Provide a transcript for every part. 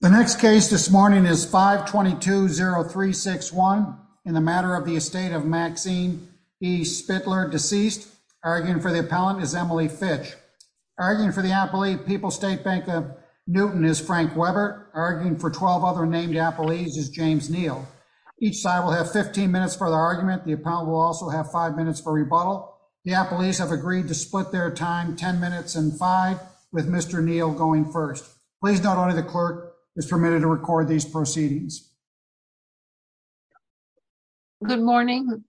The next case this morning is 522-0361 in the matter of the estate of Maxine E. Spitler, deceased. Arguing for the appellant is Emily Fitch. Arguing for the appellee, People's State Bank of Newton, is Frank Weber. Arguing for 12 other named appellees is James Neal. Each side will have 15 minutes for the argument. The appellant will also have 5 minutes for rebuttal. The appellees have agreed to split their time 10 minutes and 5 with Mr. Neal going first. Please note only the clerk is permitted to record these proceedings. Good morning.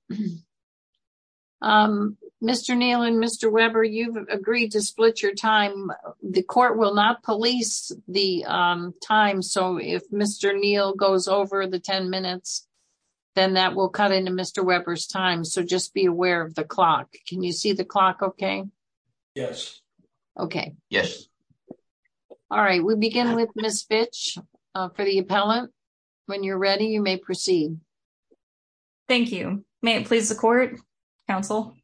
Mr. Neal and Mr. Weber, you've agreed to split your time. The court will not police the time. So if Mr. Neal goes over the 10 minutes, then that will cut into Mr. Weber's time. So just be aware of the clock. Can you see the clock? Okay. Yes. Okay. Yes. All right, we begin with Ms. Fitch for the appellant. When you're ready, you may proceed. Thank you. May it please the court, counsel?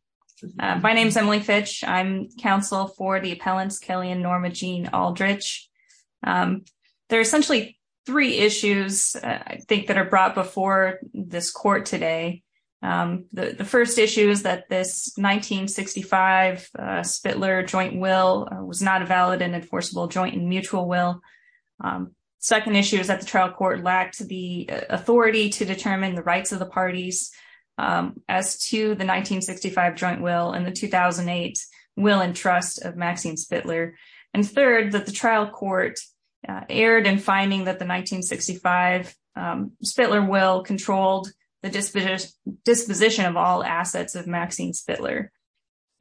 My name is Emily Fitch. I'm counsel for the appellants Kelly and Norma Jean Aldrich. There are essentially three issues, I think, that are brought before this court today. The first issue is that this 1965 Spitler joint will was not a valid and enforceable joint and mutual will. Second issue is that the trial court lacked the authority to determine the rights of the parties as to the 1965 joint will and the 2008 will and trust of Maxine Spitler. And third, that the trial court erred in finding that the 1965 Spitler will controlled the disposition of all assets of Maxine Spitler.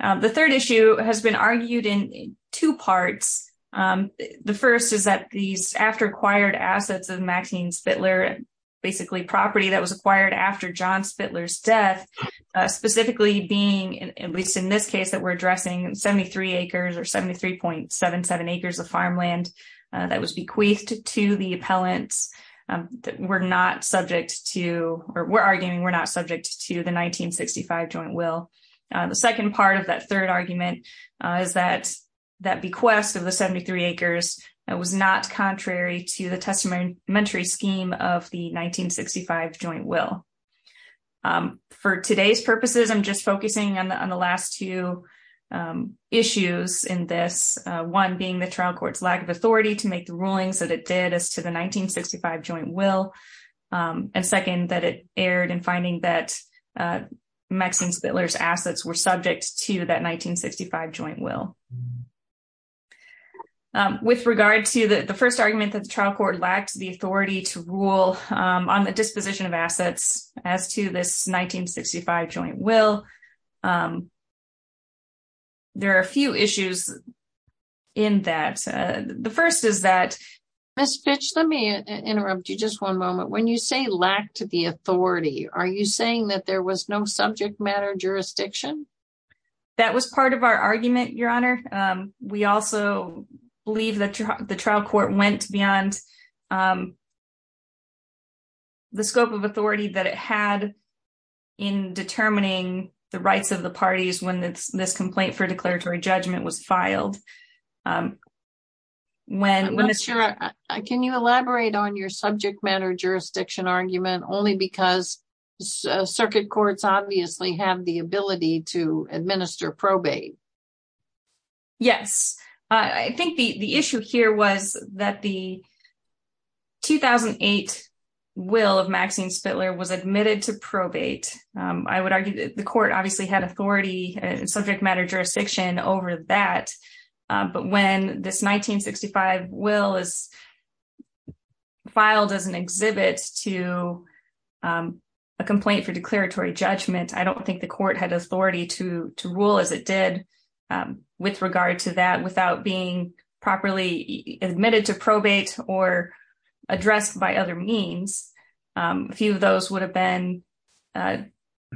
The third issue has been argued in two parts. The first is that these after-acquired assets of Maxine Spitler, basically property that was acquired after John Spitler's death, specifically being, at least in this case, that we're addressing 73 acres, or 73.77 acres of farmland that was bequeathed to the appellants, we're not subject to or we're arguing we're not subject to the 1965 joint will. The second part of that third argument is that that bequest of the 73 acres was not contrary to the testamentary scheme of the 1965 joint will. For today's purposes, I'm just focusing on the last two issues in this, one being the trial court's lack of authority to make the rulings that it did as to the 1965 joint will. And second, that it erred in finding that Maxine Spitler's assets were subject to that 1965 joint will. With regard to the first argument that the trial court lacked the authority to rule on the disposition of assets as to this 1965 joint will, there are a few issues in that. The first is that- Ms. Fitch, let me interrupt you just one moment. When you say lacked the authority, are you saying that there was no subject matter jurisdiction? That was part of our argument, Your Honor. We also believe that the trial court went beyond the scope of authority that it had in determining the rights of the parties when this complaint for declaratory judgment was filed. Ms. Scherer, can you elaborate on your subject matter jurisdiction argument only because circuit courts obviously have the ability to administer probate? Yes, I think the issue here was that the 2008 will of Maxine Spitler was admitted to probate. I would argue that the court obviously had authority and subject matter jurisdiction over that, but when this 1965 will is filed as an exhibit to a complaint for declaratory judgment, I don't think the court had authority to rule as it did with regard to that without being properly admitted to probate or addressed by other means. A few of those would have been a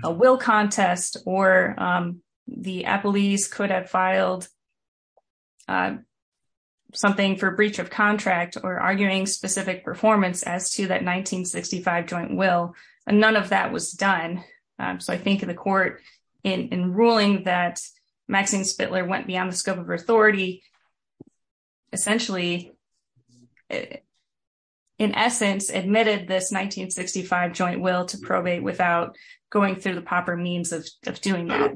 will contest or the appellees could have filed something for breach of contract or arguing specific performance as to that 1965 joint will, and none of that was done. So I think the court, in ruling that Maxine Spitler went beyond the scope of her authority, essentially, in essence, admitted this 1965 joint will to probate without going through the proper means of doing that.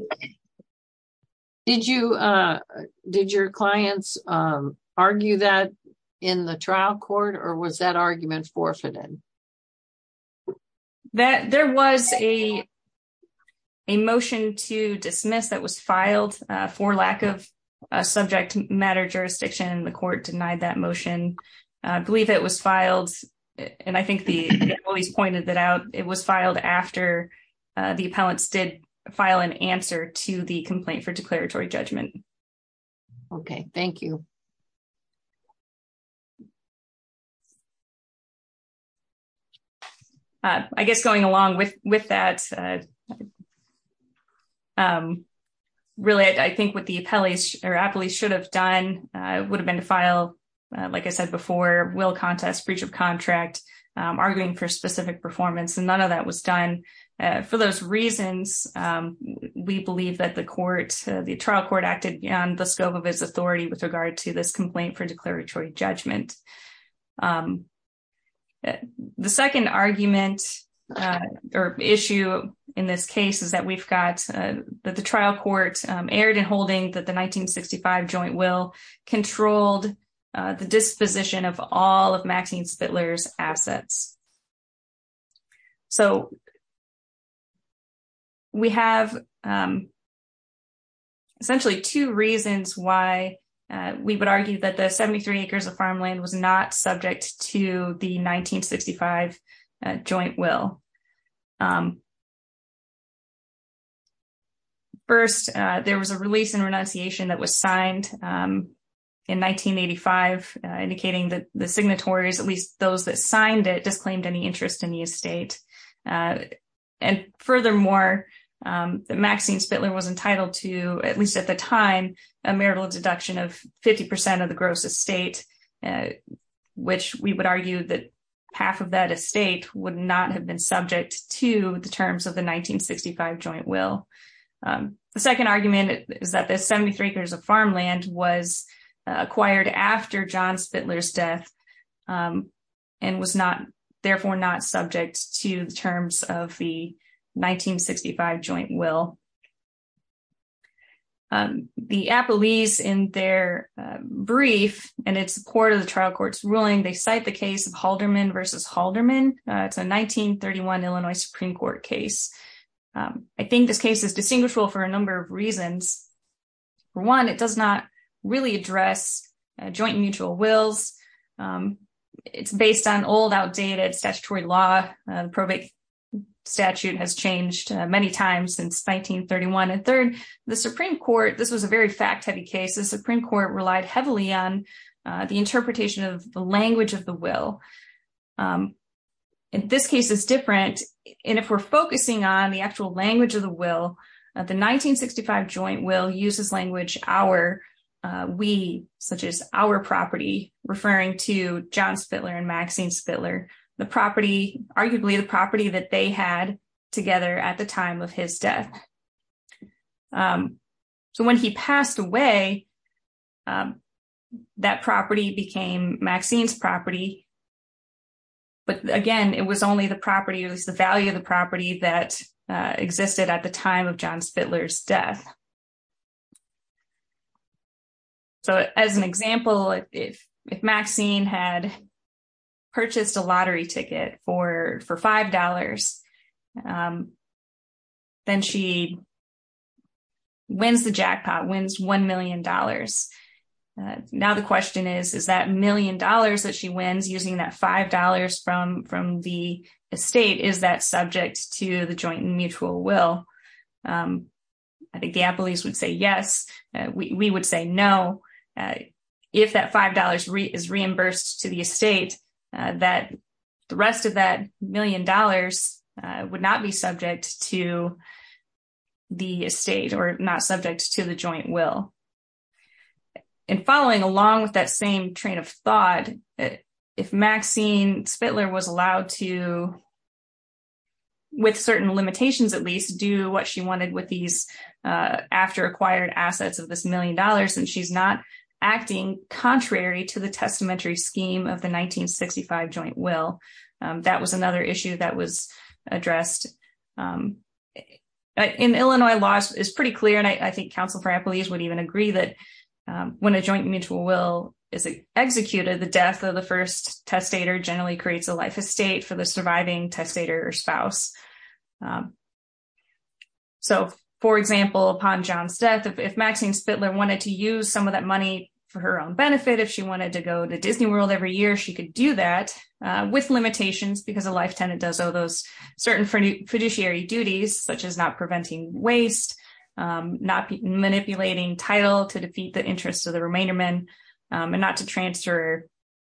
Did your clients argue that in the trial court or was that argument forfeited? There was a motion to dismiss that was filed for lack of subject matter jurisdiction. The court denied that motion. I believe it was filed, and I think the employees pointed that out, it was filed after the appellants did file an answer to the complaint for declaratory judgment. Okay, thank you. I guess going along with that, really, I think what the appellees or appellees should have done would have been to file, like I said before, will contest, breach of contract, arguing for specific performance, and none of that was done. For those reasons, we believe that the trial court acted beyond the scope of his authority with regard to this complaint for declaratory judgment. The second argument or issue in this case is that we've got the trial court erred in holding that the 1965 joint will controlled the disposition of all of Maxine Spitler's assets. So, we have essentially two reasons why we would argue that the 73 acres of farmland was not subject to the 1965 joint will. First, there was a release and renunciation that was signed in 1985, indicating that the signatories, at least those that signed it, disclaimed any interest in the estate. And furthermore, Maxine Spitler was entitled to, at least at the time, a marital deduction of 50% of the gross estate, which we would argue that half of that estate would not have been subject to the terms of the 1965 joint will. The second argument is that the 73 acres of farmland was acquired after John Spitler's death and was not, therefore, not subject to the terms of the 1965 joint will. The Appellees, in their brief, and it's part of the trial court's ruling, they cite the case of Halderman v. Halderman. It's a 1931 Illinois Supreme Court case. I think this case is distinguishable for a number of reasons. For one, it does not really address joint mutual wills. It's based on old, outdated statutory law. The probate statute has changed many times since 1931. And third, the Supreme Court, this was a very fact-heavy case, the Supreme Court relied heavily on the interpretation of the language of the will. In this case, it's different. And if we're focusing on the actual language of the will, the 1965 joint will uses language, our, we, such as our property, referring to John Spitler and Maxine Spitler, the property, arguably the property that they had together at the time of his death. So when he passed away, that property became Maxine's property. But again, it was only the property, it was the value of the property that existed at the time of John Spitler's death. So as an example, if Maxine had purchased a lottery ticket for $5, then she wins the jackpot, wins $1 million. Now the question is, is that million dollars that she wins using that $5 from the estate, is that subject to the joint mutual will? I think the Appellees would say yes, we would say no. If that $5 is reimbursed to the estate, that the rest of that million dollars would not be subject to the estate or not subject to the joint will. And following along with that same train of thought, if Maxine Spitler was allowed to, with certain limitations at least, do what she wanted with these after-acquired assets of this million dollars, then she's not acting contrary to the testamentary scheme of the 1965 joint will. That was another issue that was addressed. In Illinois, law is pretty clear, and I think counsel for Appellees would even agree that when a joint mutual will is executed, the death of the first testator generally creates a life estate for the surviving testator or spouse. So, for example, upon John's death, if Maxine Spitler wanted to use some of that money for her own benefit, if she wanted to go to Disney World every year, she could do that with limitations because a life tenant does owe those certain fiduciary duties, such as not preventing waste, not manipulating title to defeat the interests of the remainder men, and not to transfer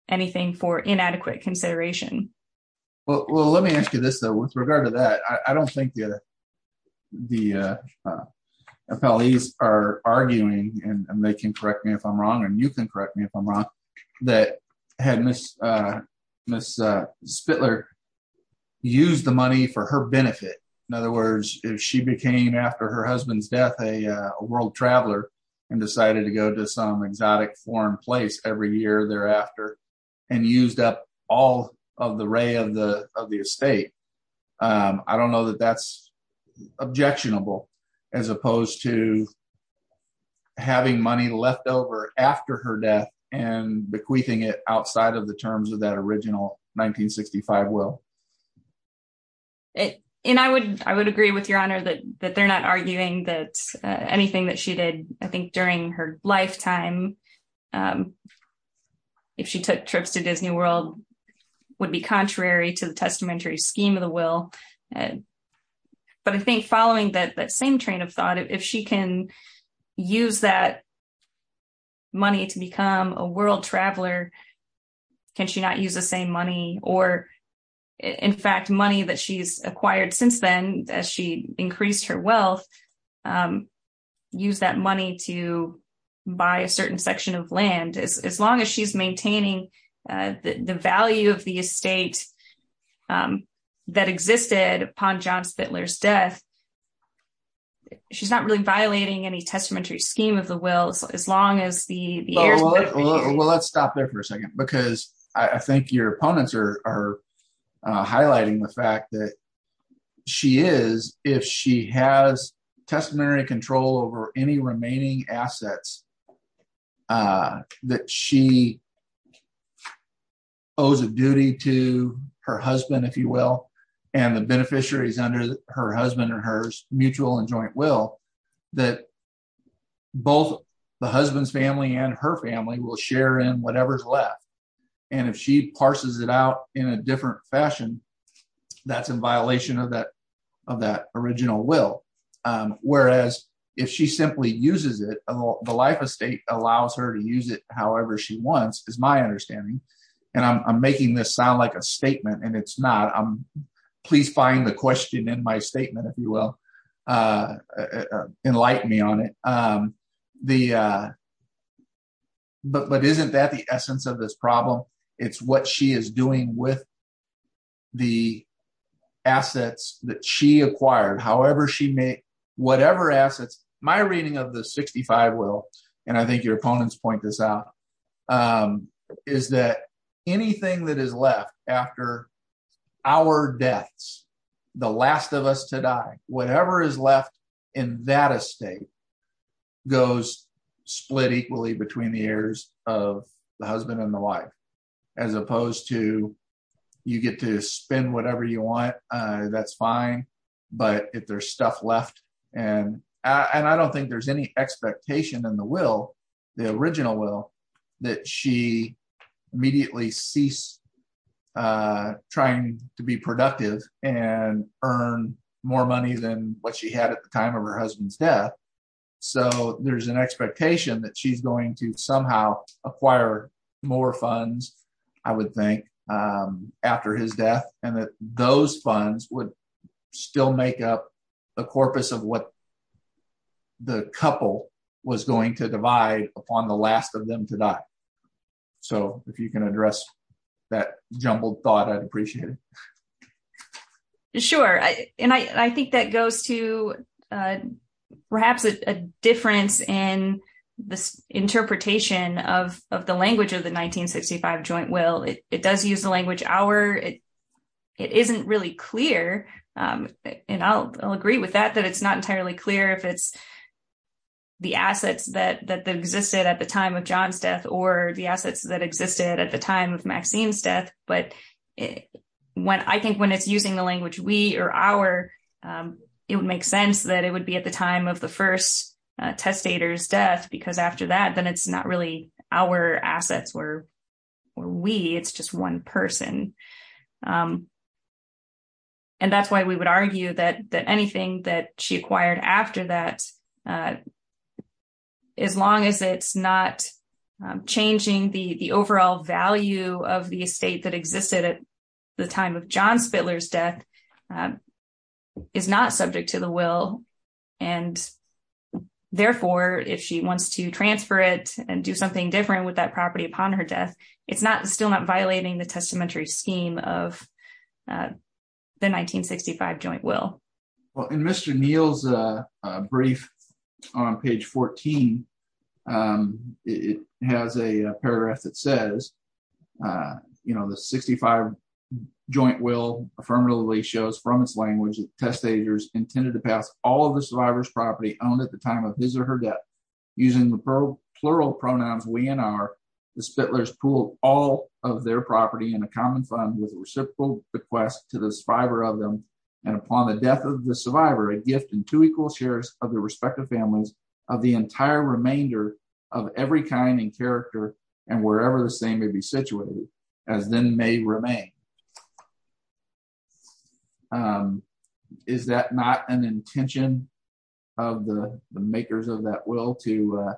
anything for inadequate consideration. Well, let me ask you this, though. With regard to that, I don't think the Appellees are arguing, and they can correct me if I'm wrong, and you can correct me if I'm wrong, that had Ms. Spitler used the money for her benefit, in other words, if she became, after her husband's death, a world traveler and decided to go to some exotic foreign place every year thereafter, and used up all of the ray of the estate, I don't know that that's objectionable, as opposed to having money left over after her death and bequeathing it outside of the terms of that original 1965 will. And I would agree with Your Honor that they're not arguing that anything that she did, I think, during her lifetime, if she took trips to Disney World, would be contrary to the testamentary scheme of the will. But I think following that same train of thought, if she can use that money to become a world traveler, can she not use the same money or, in fact, money that she's acquired since then, as she increased her wealth, use that money to buy a certain section of land? And as long as she's maintaining the value of the estate that existed upon John Spitler's death, she's not really violating any testamentary scheme of the will, as long as the years... Well, let's stop there for a second, because I think your opponents are highlighting the fact that she is, if she has testamentary control over any remaining assets that she owes a duty to her husband, if you will, and the beneficiaries under her husband or hers, mutual and joint will, that both the husband's family and her family will share in whatever's left. And if she parses it out in a different fashion, that's in violation of that original will. Whereas, if she simply uses it, the life estate allows her to use it however she wants, is my understanding. And I'm making this sound like a statement, and it's not. Please find the question in my statement, if you will, and enlighten me on it. But isn't that the essence of this problem? It's what she is doing with the assets that she acquired, however she may, whatever assets, my reading of the 65 will, and I think your opponents point this out, is that anything that is left after our deaths, the last of us to die, whatever is left in that estate goes split equally between the heirs of the husband and the wife, as opposed to, you get to spend whatever you want, that's fine. But if there's stuff left, and I don't think there's any expectation in the will, the original will, that she immediately ceased trying to be productive and earn more money than what she had at the time of her husband's death. So there's an expectation that she's going to somehow acquire more funds, I would think, after his death, and that those funds would still make up the corpus of what the couple was going to divide upon the last of them to die. So if you can address that jumbled thought, I'd appreciate it. Sure. And I think that goes to perhaps a difference in this interpretation of the language of the 1965 joint will. It does use the language, our, it isn't really clear, and I'll agree with that, that it's not entirely clear if it's the assets that existed at the time of John's death or the assets that existed at the time of Maxine's death. But when I think when it's using the language we or our, it would make sense that it would be at the time of the first testator's death, because after that, then it's not really our assets or we, it's just one person. And that's why we would argue that anything that she acquired after that, as long as it's not changing the overall value of the estate that existed at the time of John Spittler's death, is not subject to the will. And therefore, if she wants to transfer it and do something different with that property upon her death, it's not still not violating the testamentary scheme of the 1965 joint will. Well, in Mr. Neal's brief on page 14, it has a paragraph that says, you know, the 1965 joint will affirmatively shows from its language that the testators intended to pass all of the survivor's property owned at the time of his or her death. Using the plural pronouns we and our, the Spittler's pool, all of their property in a common fund with reciprocal request to the survivor of them. And upon the death of the survivor a gift and two equal shares of the respective families of the entire remainder of every kind and character, and wherever the same may be situated, as then may remain. Is that not an intention of the makers of that will to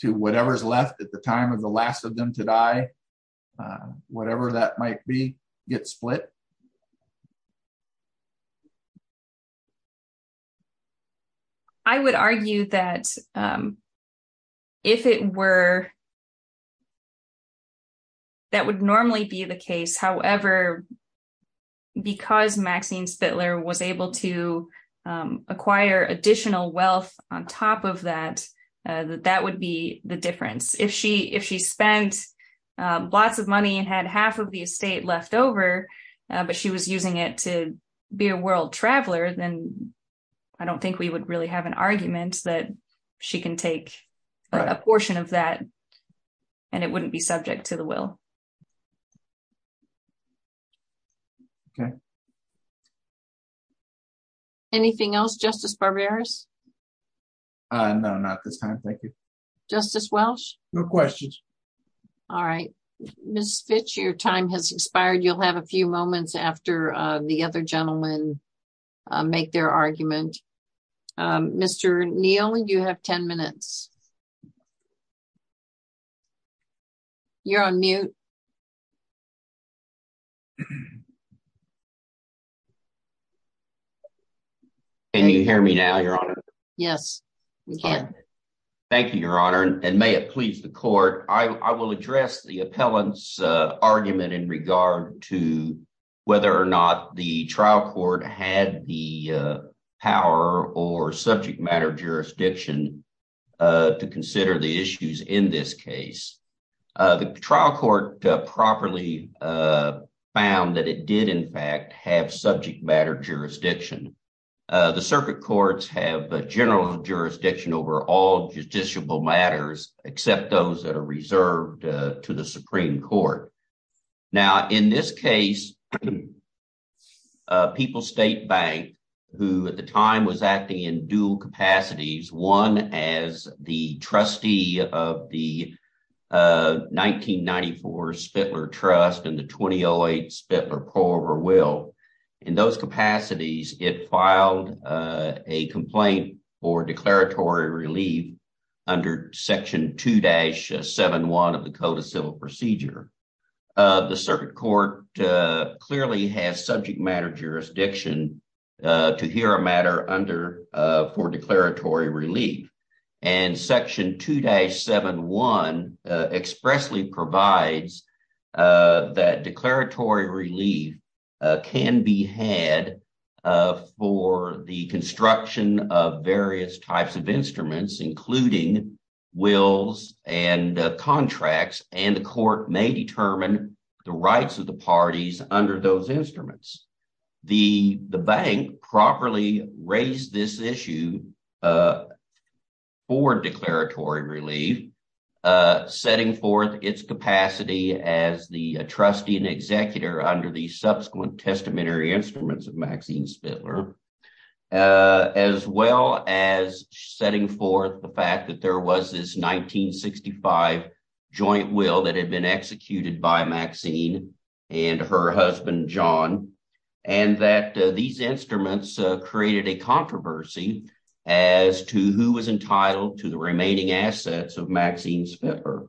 to whatever's left at the time of the last of them to die. Whatever that might be, get split. I would argue that if it were That would normally be the case, however, because Maxine Spittler was able to acquire additional wealth on top of that, that that would be the difference if she if she spent lots of money and had half of the estate left over, but she was using it to be a world traveler, then I don't think we would really have an argument that she can take a portion of that. And it wouldn't be subject to the will. Okay. Anything else justice barbarous. No, not this time. Thank you, Justice Welsh. No questions. All right, Miss Fitch your time has expired, you'll have a few moments after the other gentleman, make their argument. Mr. Neal and you have 10 minutes. You're on mute. Can you hear me now your honor. Yes, we can. Thank you, your honor, and may it please the court, I will address the appellants argument in regard to whether or not the trial court had the power or subject matter jurisdiction to consider the issues in this case. The trial court properly found that it did in fact have subject matter jurisdiction. The circuit courts have a general jurisdiction over all judiciable matters, except those that are reserved to the Supreme Court. Now, in this case, people state bank, who at the time was acting in dual capacities one as the trustee of the 1994 Spittler trust and the 2008 Spittler pro over will in those capacities, it filed a complaint for declaratory relief under section two dash seven one of the circuit court clearly has subject matter jurisdiction to hear a matter under for declaratory relief and section two day seven one expressly provides that declaratory relief can be had for the construction of various types of instruments, including wills and contracts and the court may determine the rights of the parties under those instruments. The, the bank properly raised this issue for declaratory relief, setting forth its capacity as the trustee and executor under the subsequent testamentary instruments of Maxine Spittler, as well as the will that had been executed by Maxine and her husband john, and that these instruments created a controversy as to who was entitled to the remaining assets of Maxine's pepper.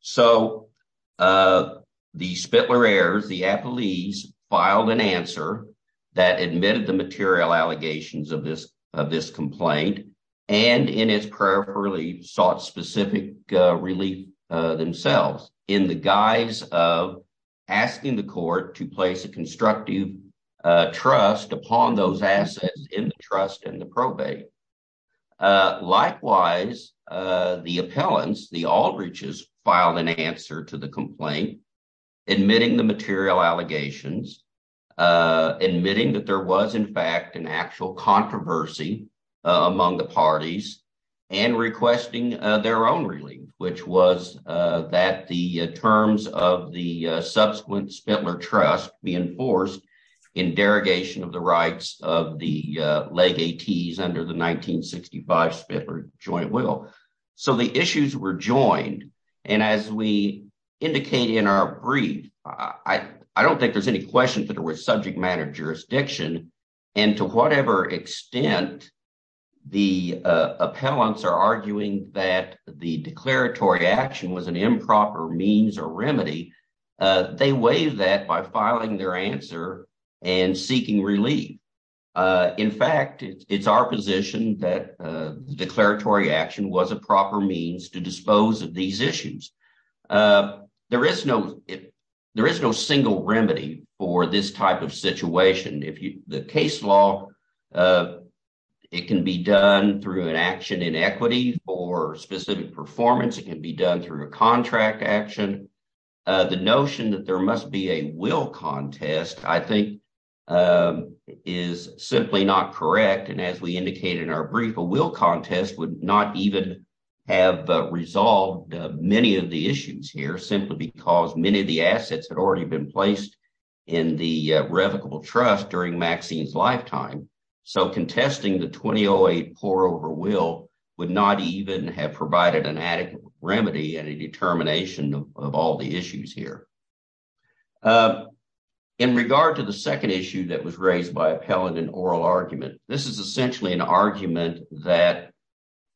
So, the Spittler airs the appellees filed an answer that admitted the material allegations of this of this complaint, and in his prayer for relief sought specific relief themselves in the guise of asking the court to place a constructive trust upon those assets in the trust and the probate. Likewise, the appellants the Aldridge's filed an answer to the complaint, admitting the material allegations, admitting that there was in fact an actual controversy among the parties and requesting their own relief, which was that the terms of the subsequent Spittler trust be enforced in derogation of the rights of the leg 80s under the 1965 Spittler joint will. So the issues were joined. And as we indicate in our brief, I don't think there's any questions that are with subject matter jurisdiction, and to whatever extent the appellants are arguing that the declaratory action was an improper means or remedy. They waive that by filing their answer and seeking relief. In fact, it's our position that declaratory action was a proper means to dispose of these issues. There is no, there is no single remedy for this type of situation. If you the case law, it can be done through an action in equity for specific performance, it can be done through a contract action. The notion that there must be a will contest, I think, is simply not correct. And as we indicated in our brief, a will contest would not even have resolved many of the issues here simply because many of the assets had already been placed in the revocable trust during Maxine's lifetime. So contesting the 2008 pour over will would not even have provided an adequate remedy and a determination of all the issues here. In regard to the second issue that was raised by appellant and oral argument, this is essentially an argument that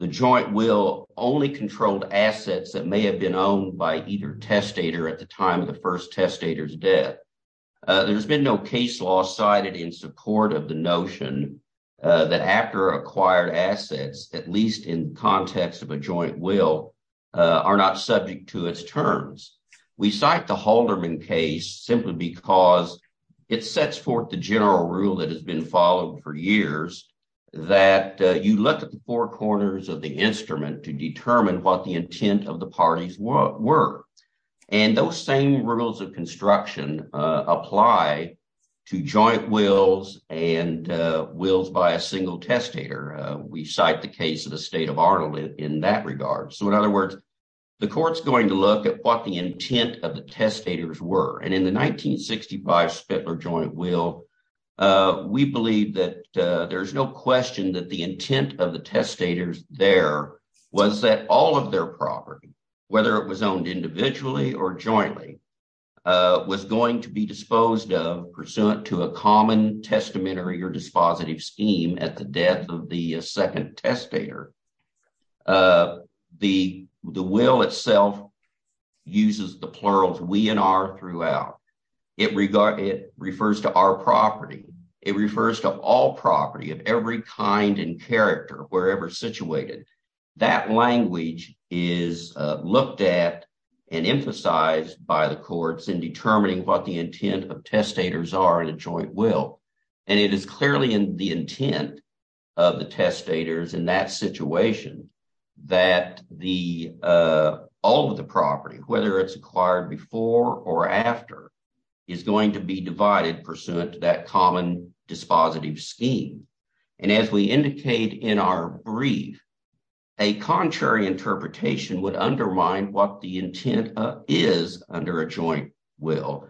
the joint will only controlled assets that may have been owned by either testator at the time of the first testator's death. There's been no case law cited in support of the notion that after acquired assets, at least in context of a joint will, are not subject to its terms. We cite the Holderman case simply because it sets forth the general rule that has been followed for years, that you look at the four corners of the instrument to determine what the intent of the parties were. And those same rules of construction apply to joint wills and wills by a single testator. We cite the case of the state of Arnold in that regard. So in other words, the court's going to look at what the intent of the testators were. And in the 1965 Spittler joint will, we believe that there's no question that the intent of the testators there was that all of their property, whether it was owned individually or jointly, was going to be disposed of pursuant to a common testamentary or dispositive scheme at the death of the second testator. The will itself uses the plurals we and our throughout. It refers to our property. It refers to all property of every kind and character, wherever situated. That language is looked at and emphasized by the courts in determining what the intent of testators are in a joint will. And it is clearly in the intent of the testators in that situation that all of the property, whether it's acquired before or after, is going to be divided pursuant to that common dispositive scheme. And as we indicate in our brief, a contrary interpretation would undermine what the intent is under a joint will.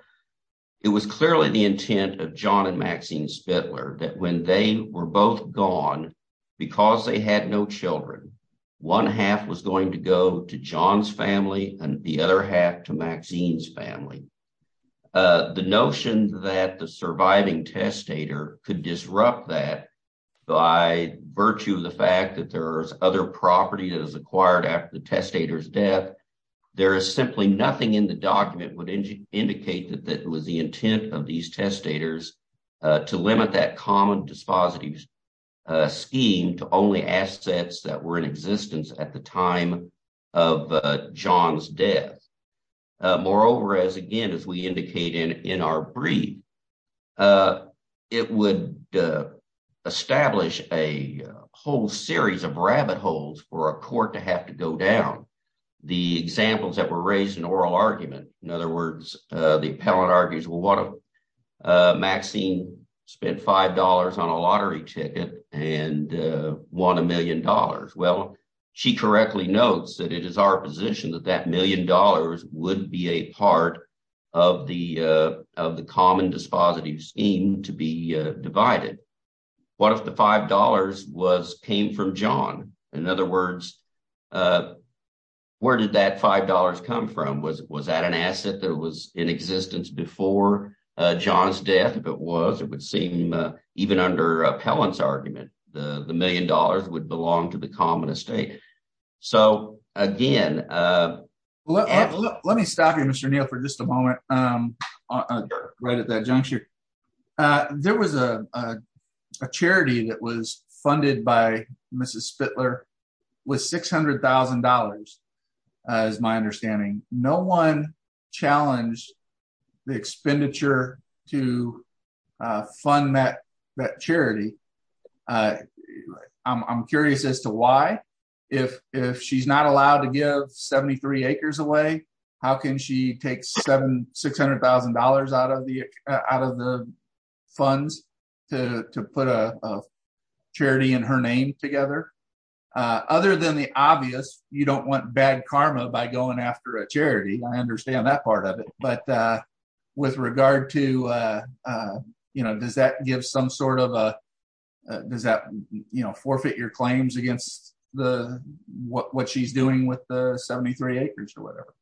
It was clearly the intent of John and Maxine Spittler that when they were both gone, because they had no children, one half was going to go to John's family and the other half to Maxine's family. The notion that the surviving testator could disrupt that by virtue of the fact that there is other property that is acquired after the testator's death, there is simply nothing in the document would indicate that it was the intent of these testators to limit that common dispositive scheme to only assets that were in existence at the time of John's death. Moreover, as again, as we indicate in our brief, it would establish a whole series of rabbit holes for a court to have to go down. The examples that were raised in oral argument, in other words, the appellant argues, well, what if Maxine spent $5 on a lottery ticket and won a million dollars? Well, she correctly notes that it is our position that that million dollars would be a part of the common dispositive scheme to be divided. What if the $5 came from John? In other words, where did that $5 come from? Was that an asset that was in existence before John's death? If it was, it would seem, even under appellant's argument, the million dollars would belong to the common estate. So, again, Let me stop you, Mr. Neal, for just a moment, right at that juncture. There was a charity that was funded by Mrs. Spittler with $600,000, as my understanding. No one challenged the expenditure to fund that charity. I'm curious as to why. If she's not allowed to give 73 acres away, how can she take $600,000 out of the funds to put a charity in her name together? Other than the obvious, you don't want bad karma by going after a charity. I understand that part of it. But with regard to, you know, does that give some sort of a, does that, you know, forfeit your claims against what she's doing with the 73 acres or whatever?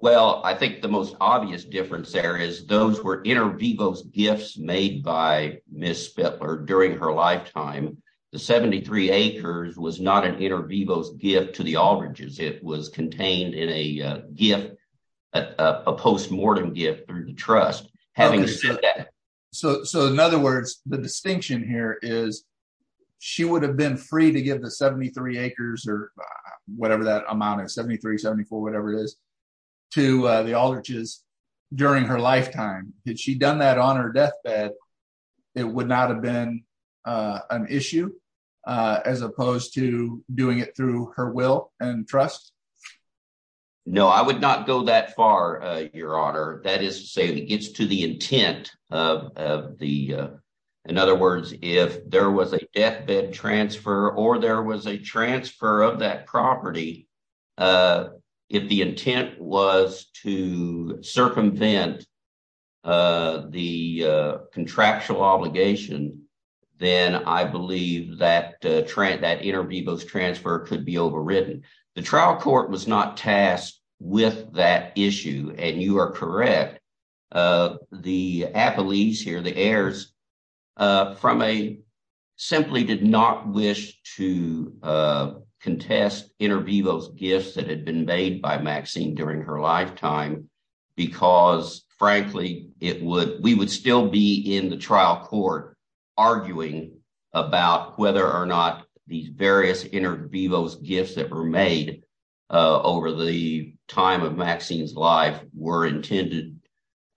Well, I think the most obvious difference there is those were inter vivos gifts made by Mrs. Spittler during her lifetime. The 73 acres was not an inter vivos gift to the Aldridge's. It was contained in a gift, a postmortem gift through the trust. So, in other words, the distinction here is she would have been free to give the 73 acres or whatever that amount is, 73, 74, whatever it is, to the Aldridge's during her lifetime. Had she done that on her deathbed, it would not have been an issue as opposed to doing it through her will and trust? No, I would not go that far, Your Honor. That is to say it gets to the intent of the, in other words, if there was a deathbed transfer or there was a transfer of that property, if the intent was to circumvent the contractual obligation, then I believe that inter vivos transfer could be overridden. The trial court was not tasked with that issue, and you are correct. The appellees here, the heirs, simply did not wish to contest inter vivos gifts that had been made by Maxine during her lifetime because, frankly, we would still be in the trial court arguing about whether or not these various inter vivos gifts that were made over the time of Maxine's life were intended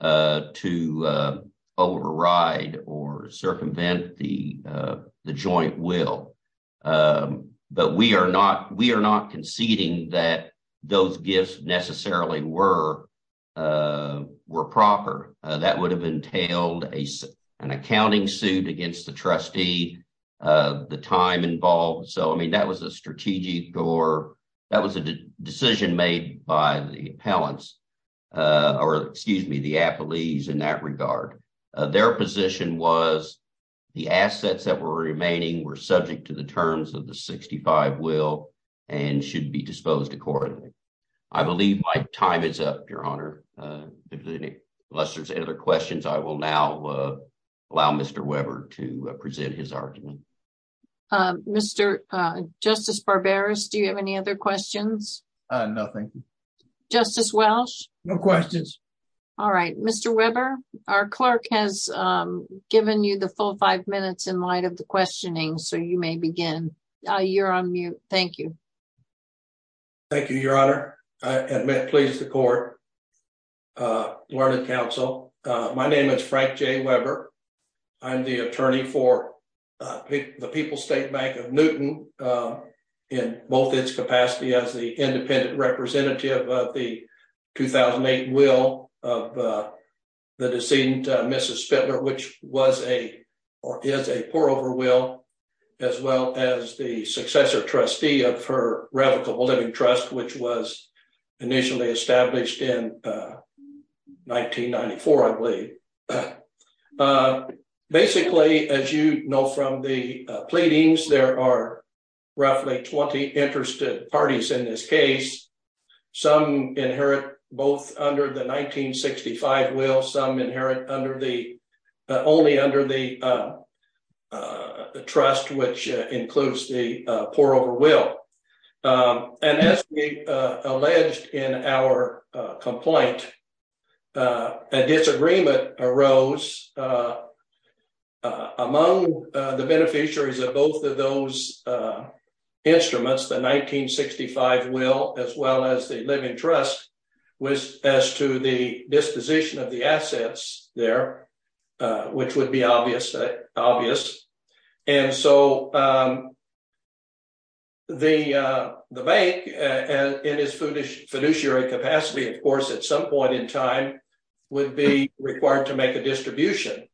to override or circumvent the joint will. But we are not conceding that those gifts necessarily were proper. That would have entailed an accounting suit against the trustee, the time involved. So, I mean, that was a strategic or that was a decision made by the appellants or, excuse me, the appellees in that regard. Their position was the assets that were remaining were subject to the terms of the 65 will and should be disposed accordingly. I believe my time is up, Your Honor. If there's any questions, I will now allow Mr. Weber to present his argument. Mr. Justice Barberis, do you have any other questions? Nothing. Justice Welch? No questions. All right. Mr. Weber, our clerk has given you the full five minutes in light of the questioning, so you may begin. You're on mute. Thank you. Thank you, Your Honor. I admit, please, the court, learned counsel. My name is Frank J. Weber. I'm the attorney for the People's State Bank of Newton in both its capacity as the independent representative of the 2008 will of the decedent Mrs. Spindler, which was a or is a pour-over will, as well as the successor trustee of her Revocable Living Trust, which was initially established in 1994, I believe. Basically, as you know from the pleadings, there are roughly 20 interested parties in this case. Some inherit both under the 1965 will. Some inherit only under the trust, which includes the pour-over will. And as we alleged in our complaint, a disagreement arose among the beneficiaries of both of those instruments, the 1965 will, as well as the living trust, as to the disposition of the assets there, which would be obvious. And so the bank, in its fiduciary capacity, of course, at some point in time, would be required to make a distribution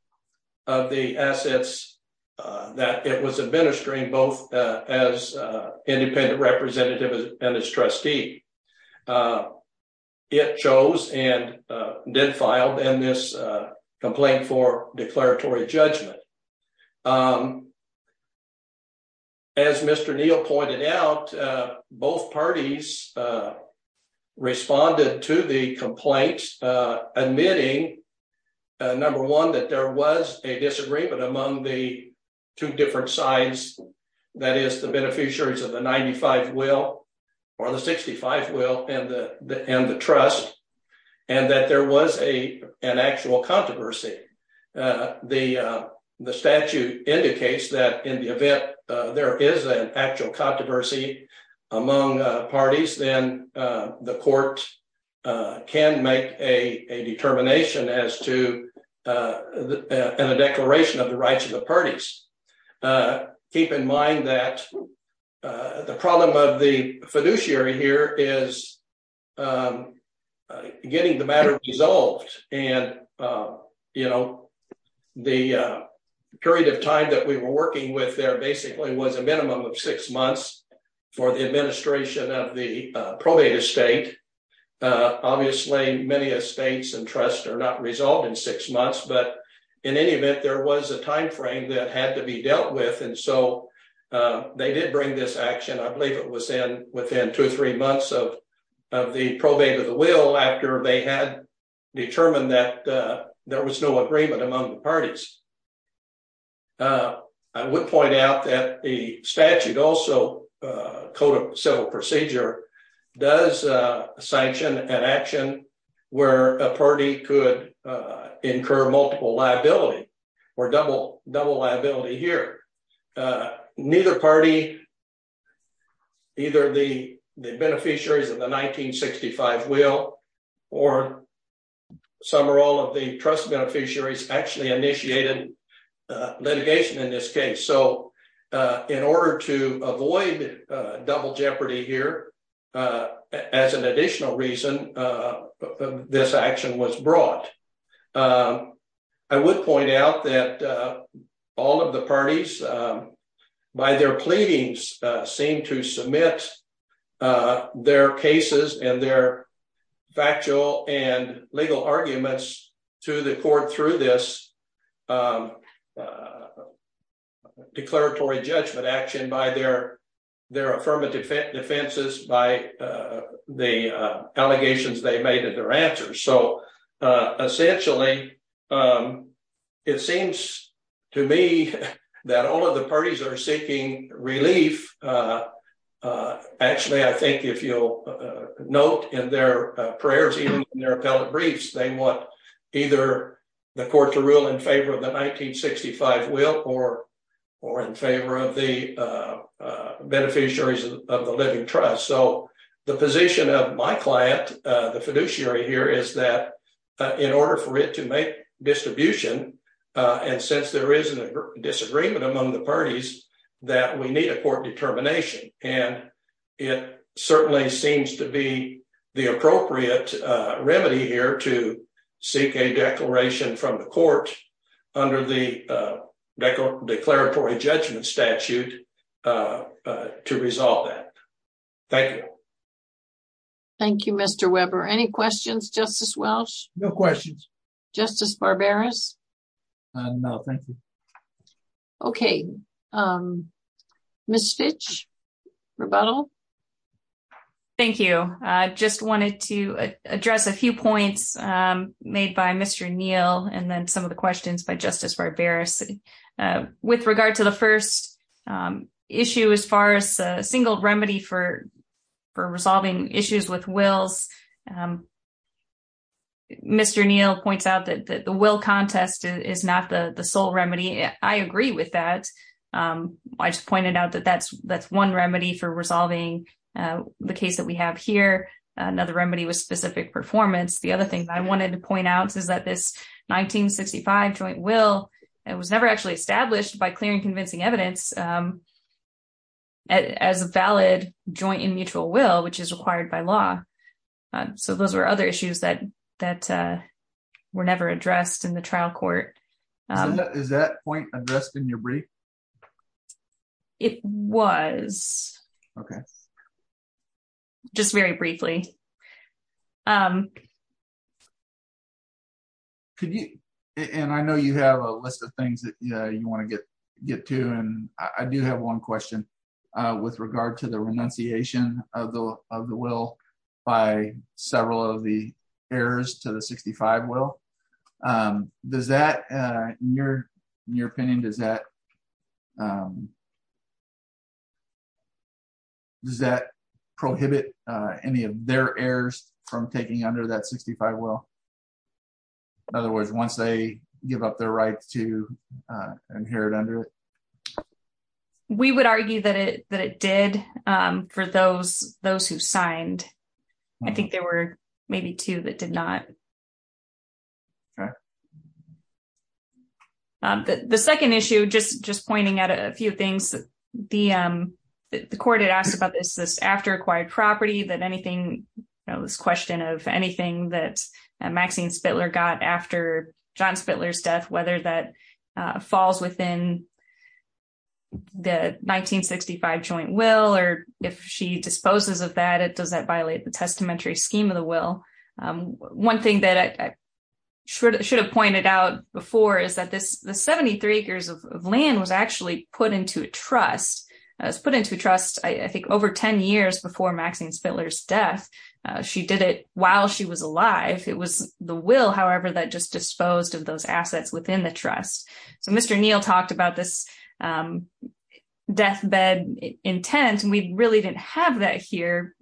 of the assets that it was administering, both as independent representative and as trustee. It chose and did file in this complaint for declaratory judgment. As Mr. Neal pointed out, both parties responded to the complaint, admitting, number one, that there was a disagreement among the two different sides, that is, the beneficiaries of the 95 will or the 65 will and the trust, and that there was an actual controversy. The statute indicates that in the event there is an actual controversy among parties, then the court can make a determination as to the declaration of the rights of the parties. Keep in mind that the problem of the fiduciary here is getting the matter resolved. And, you know, the period of time that we were working with there basically was a minimum of six months for the administration of the probate estate. Obviously, many estates and trusts are not resolved in six months, but in any event, there was a timeframe that had to be dealt with. And so they did bring this action, I believe it was within two or three months of the probate of the will after they had determined that there was no agreement among the parties. I would point out that the statute also, Code of Civil Procedure, does sanction an action where a party could incur multiple liability or double liability here. Neither party, either the beneficiaries of the 1965 will or some or all of the trust beneficiaries actually initiated litigation in this case. So in order to avoid double jeopardy here, as an additional reason, this action was brought. I would point out that all of the parties, by their pleadings, seem to submit their cases and their factual and legal arguments to the court through this declaratory judgment action by their affirmative defenses, by the allegations they made and their answers. So essentially, it seems to me that all of the parties are seeking relief. Actually, I think if you'll note in their prayers, even in their appellate briefs, they want either the court to rule in favor of the 1965 will or in favor of the beneficiaries of the living trust. So the position of my client, the fiduciary here, is that in order for it to make distribution, and since there is a disagreement among the parties, that we need a court determination. And it certainly seems to be the appropriate remedy here to seek a declaration from the court under the declaratory judgment statute to resolve that. Thank you. Thank you, Mr. Weber. Any questions, Justice Welch? No questions. Justice Barberis? No, thank you. Okay. Ms. Fitch? Rebuttal? Thank you. I just wanted to address a few points made by Mr. Neal and then some of the questions by Justice Barberis. With regard to the first issue, as far as a single remedy for resolving issues with wills, Mr. Neal points out that the will contest is not the sole remedy. I agree with that. I just pointed out that that's one remedy for resolving the case that we have here. Another remedy was specific performance. The other thing I wanted to point out is that this 1965 joint will was never actually established by clear and convincing evidence as a valid joint and mutual will, which is required by law. So those were other issues that were never addressed in the trial court. Is that point addressed in your brief? It was. Okay. Just very briefly. And I know you have a list of things that you want to get to. I do have one question with regard to the renunciation of the will by several of the heirs to the 1965 will. In your opinion, does that prohibit any of their heirs from taking under that 1965 will? In other words, once they give up their right to inherit under it? We would argue that it did for those who signed. I think there were maybe two that did not. Okay. The second issue, just pointing out a few things. The court had asked about this after acquired property, that anything, this question of anything that Maxine Spittler got after John Spittler's death, whether that falls within the 1965 joint will, or if she disposes of that, does that violate the testamentary scheme of the will? One thing that I should have pointed out before is that the 73 acres of land was actually put into a trust. It was put into a trust, I think, over 10 years before Maxine Spittler's death. She did it while she was alive. It was the will, however, that just disposed of those assets within the trust. Mr. Neal talked about this deathbed intent, and we really didn't have that here.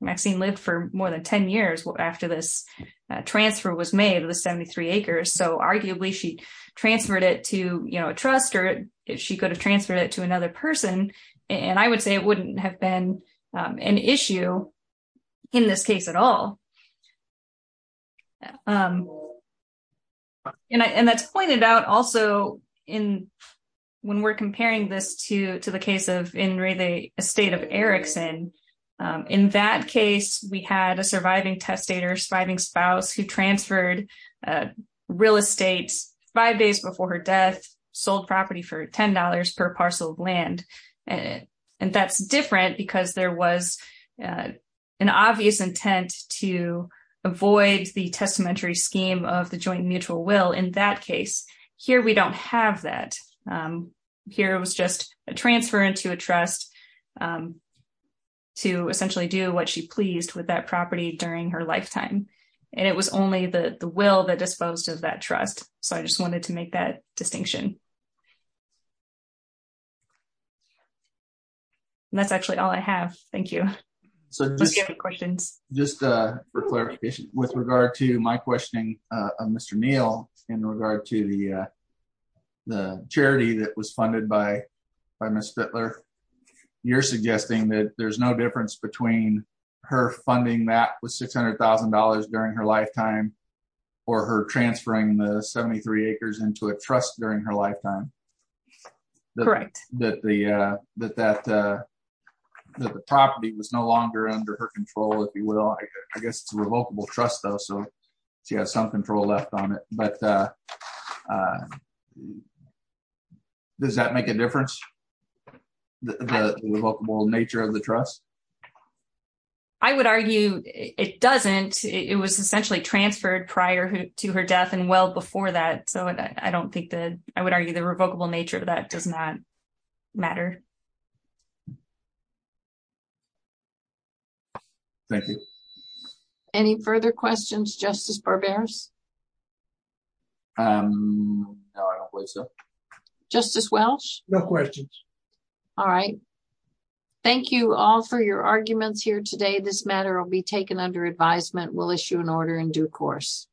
Maxine lived for more than 10 years after this transfer was made of the 73 acres. Arguably, she transferred it to a trust, or she could have transferred it to another person. I would say it wouldn't have been an issue in this case at all. And that's pointed out also when we're comparing this to the case of In re the estate of Erickson. In that case, we had a surviving testator, surviving spouse who transferred real estate five days before her death, sold property for $10 per parcel of land. And that's different because there was an obvious intent to avoid the testamentary scheme of the joint mutual will. In that case, here we don't have that. Here it was just a transfer into a trust to essentially do what she pleased with that property during her lifetime. And it was only the will that disposed of that trust. So I just wanted to make that distinction. That's actually all I have. Thank you. So just questions, just for clarification, with regard to my questioning, Mr. Neal, in regard to the, the charity that was funded by by Miss Butler. You're suggesting that there's no difference between her funding that was $600,000 during her lifetime, or her transferring the 73 acres into a trust during her lifetime. Right, that the that that the property was no longer under her control, if you will, I guess it's revocable trust though so she has some control left on it, but does that make a difference. The nature of the trust. I would argue, it doesn't, it was essentially transferred prior to her death and well before that so I don't think that I would argue the revocable nature of that does not matter. Thank you. Any further questions justice for bears. I don't believe so. Just as well. No questions. All right. Thank you all for your arguments here today this matter will be taken under advisement will issue an order in due course.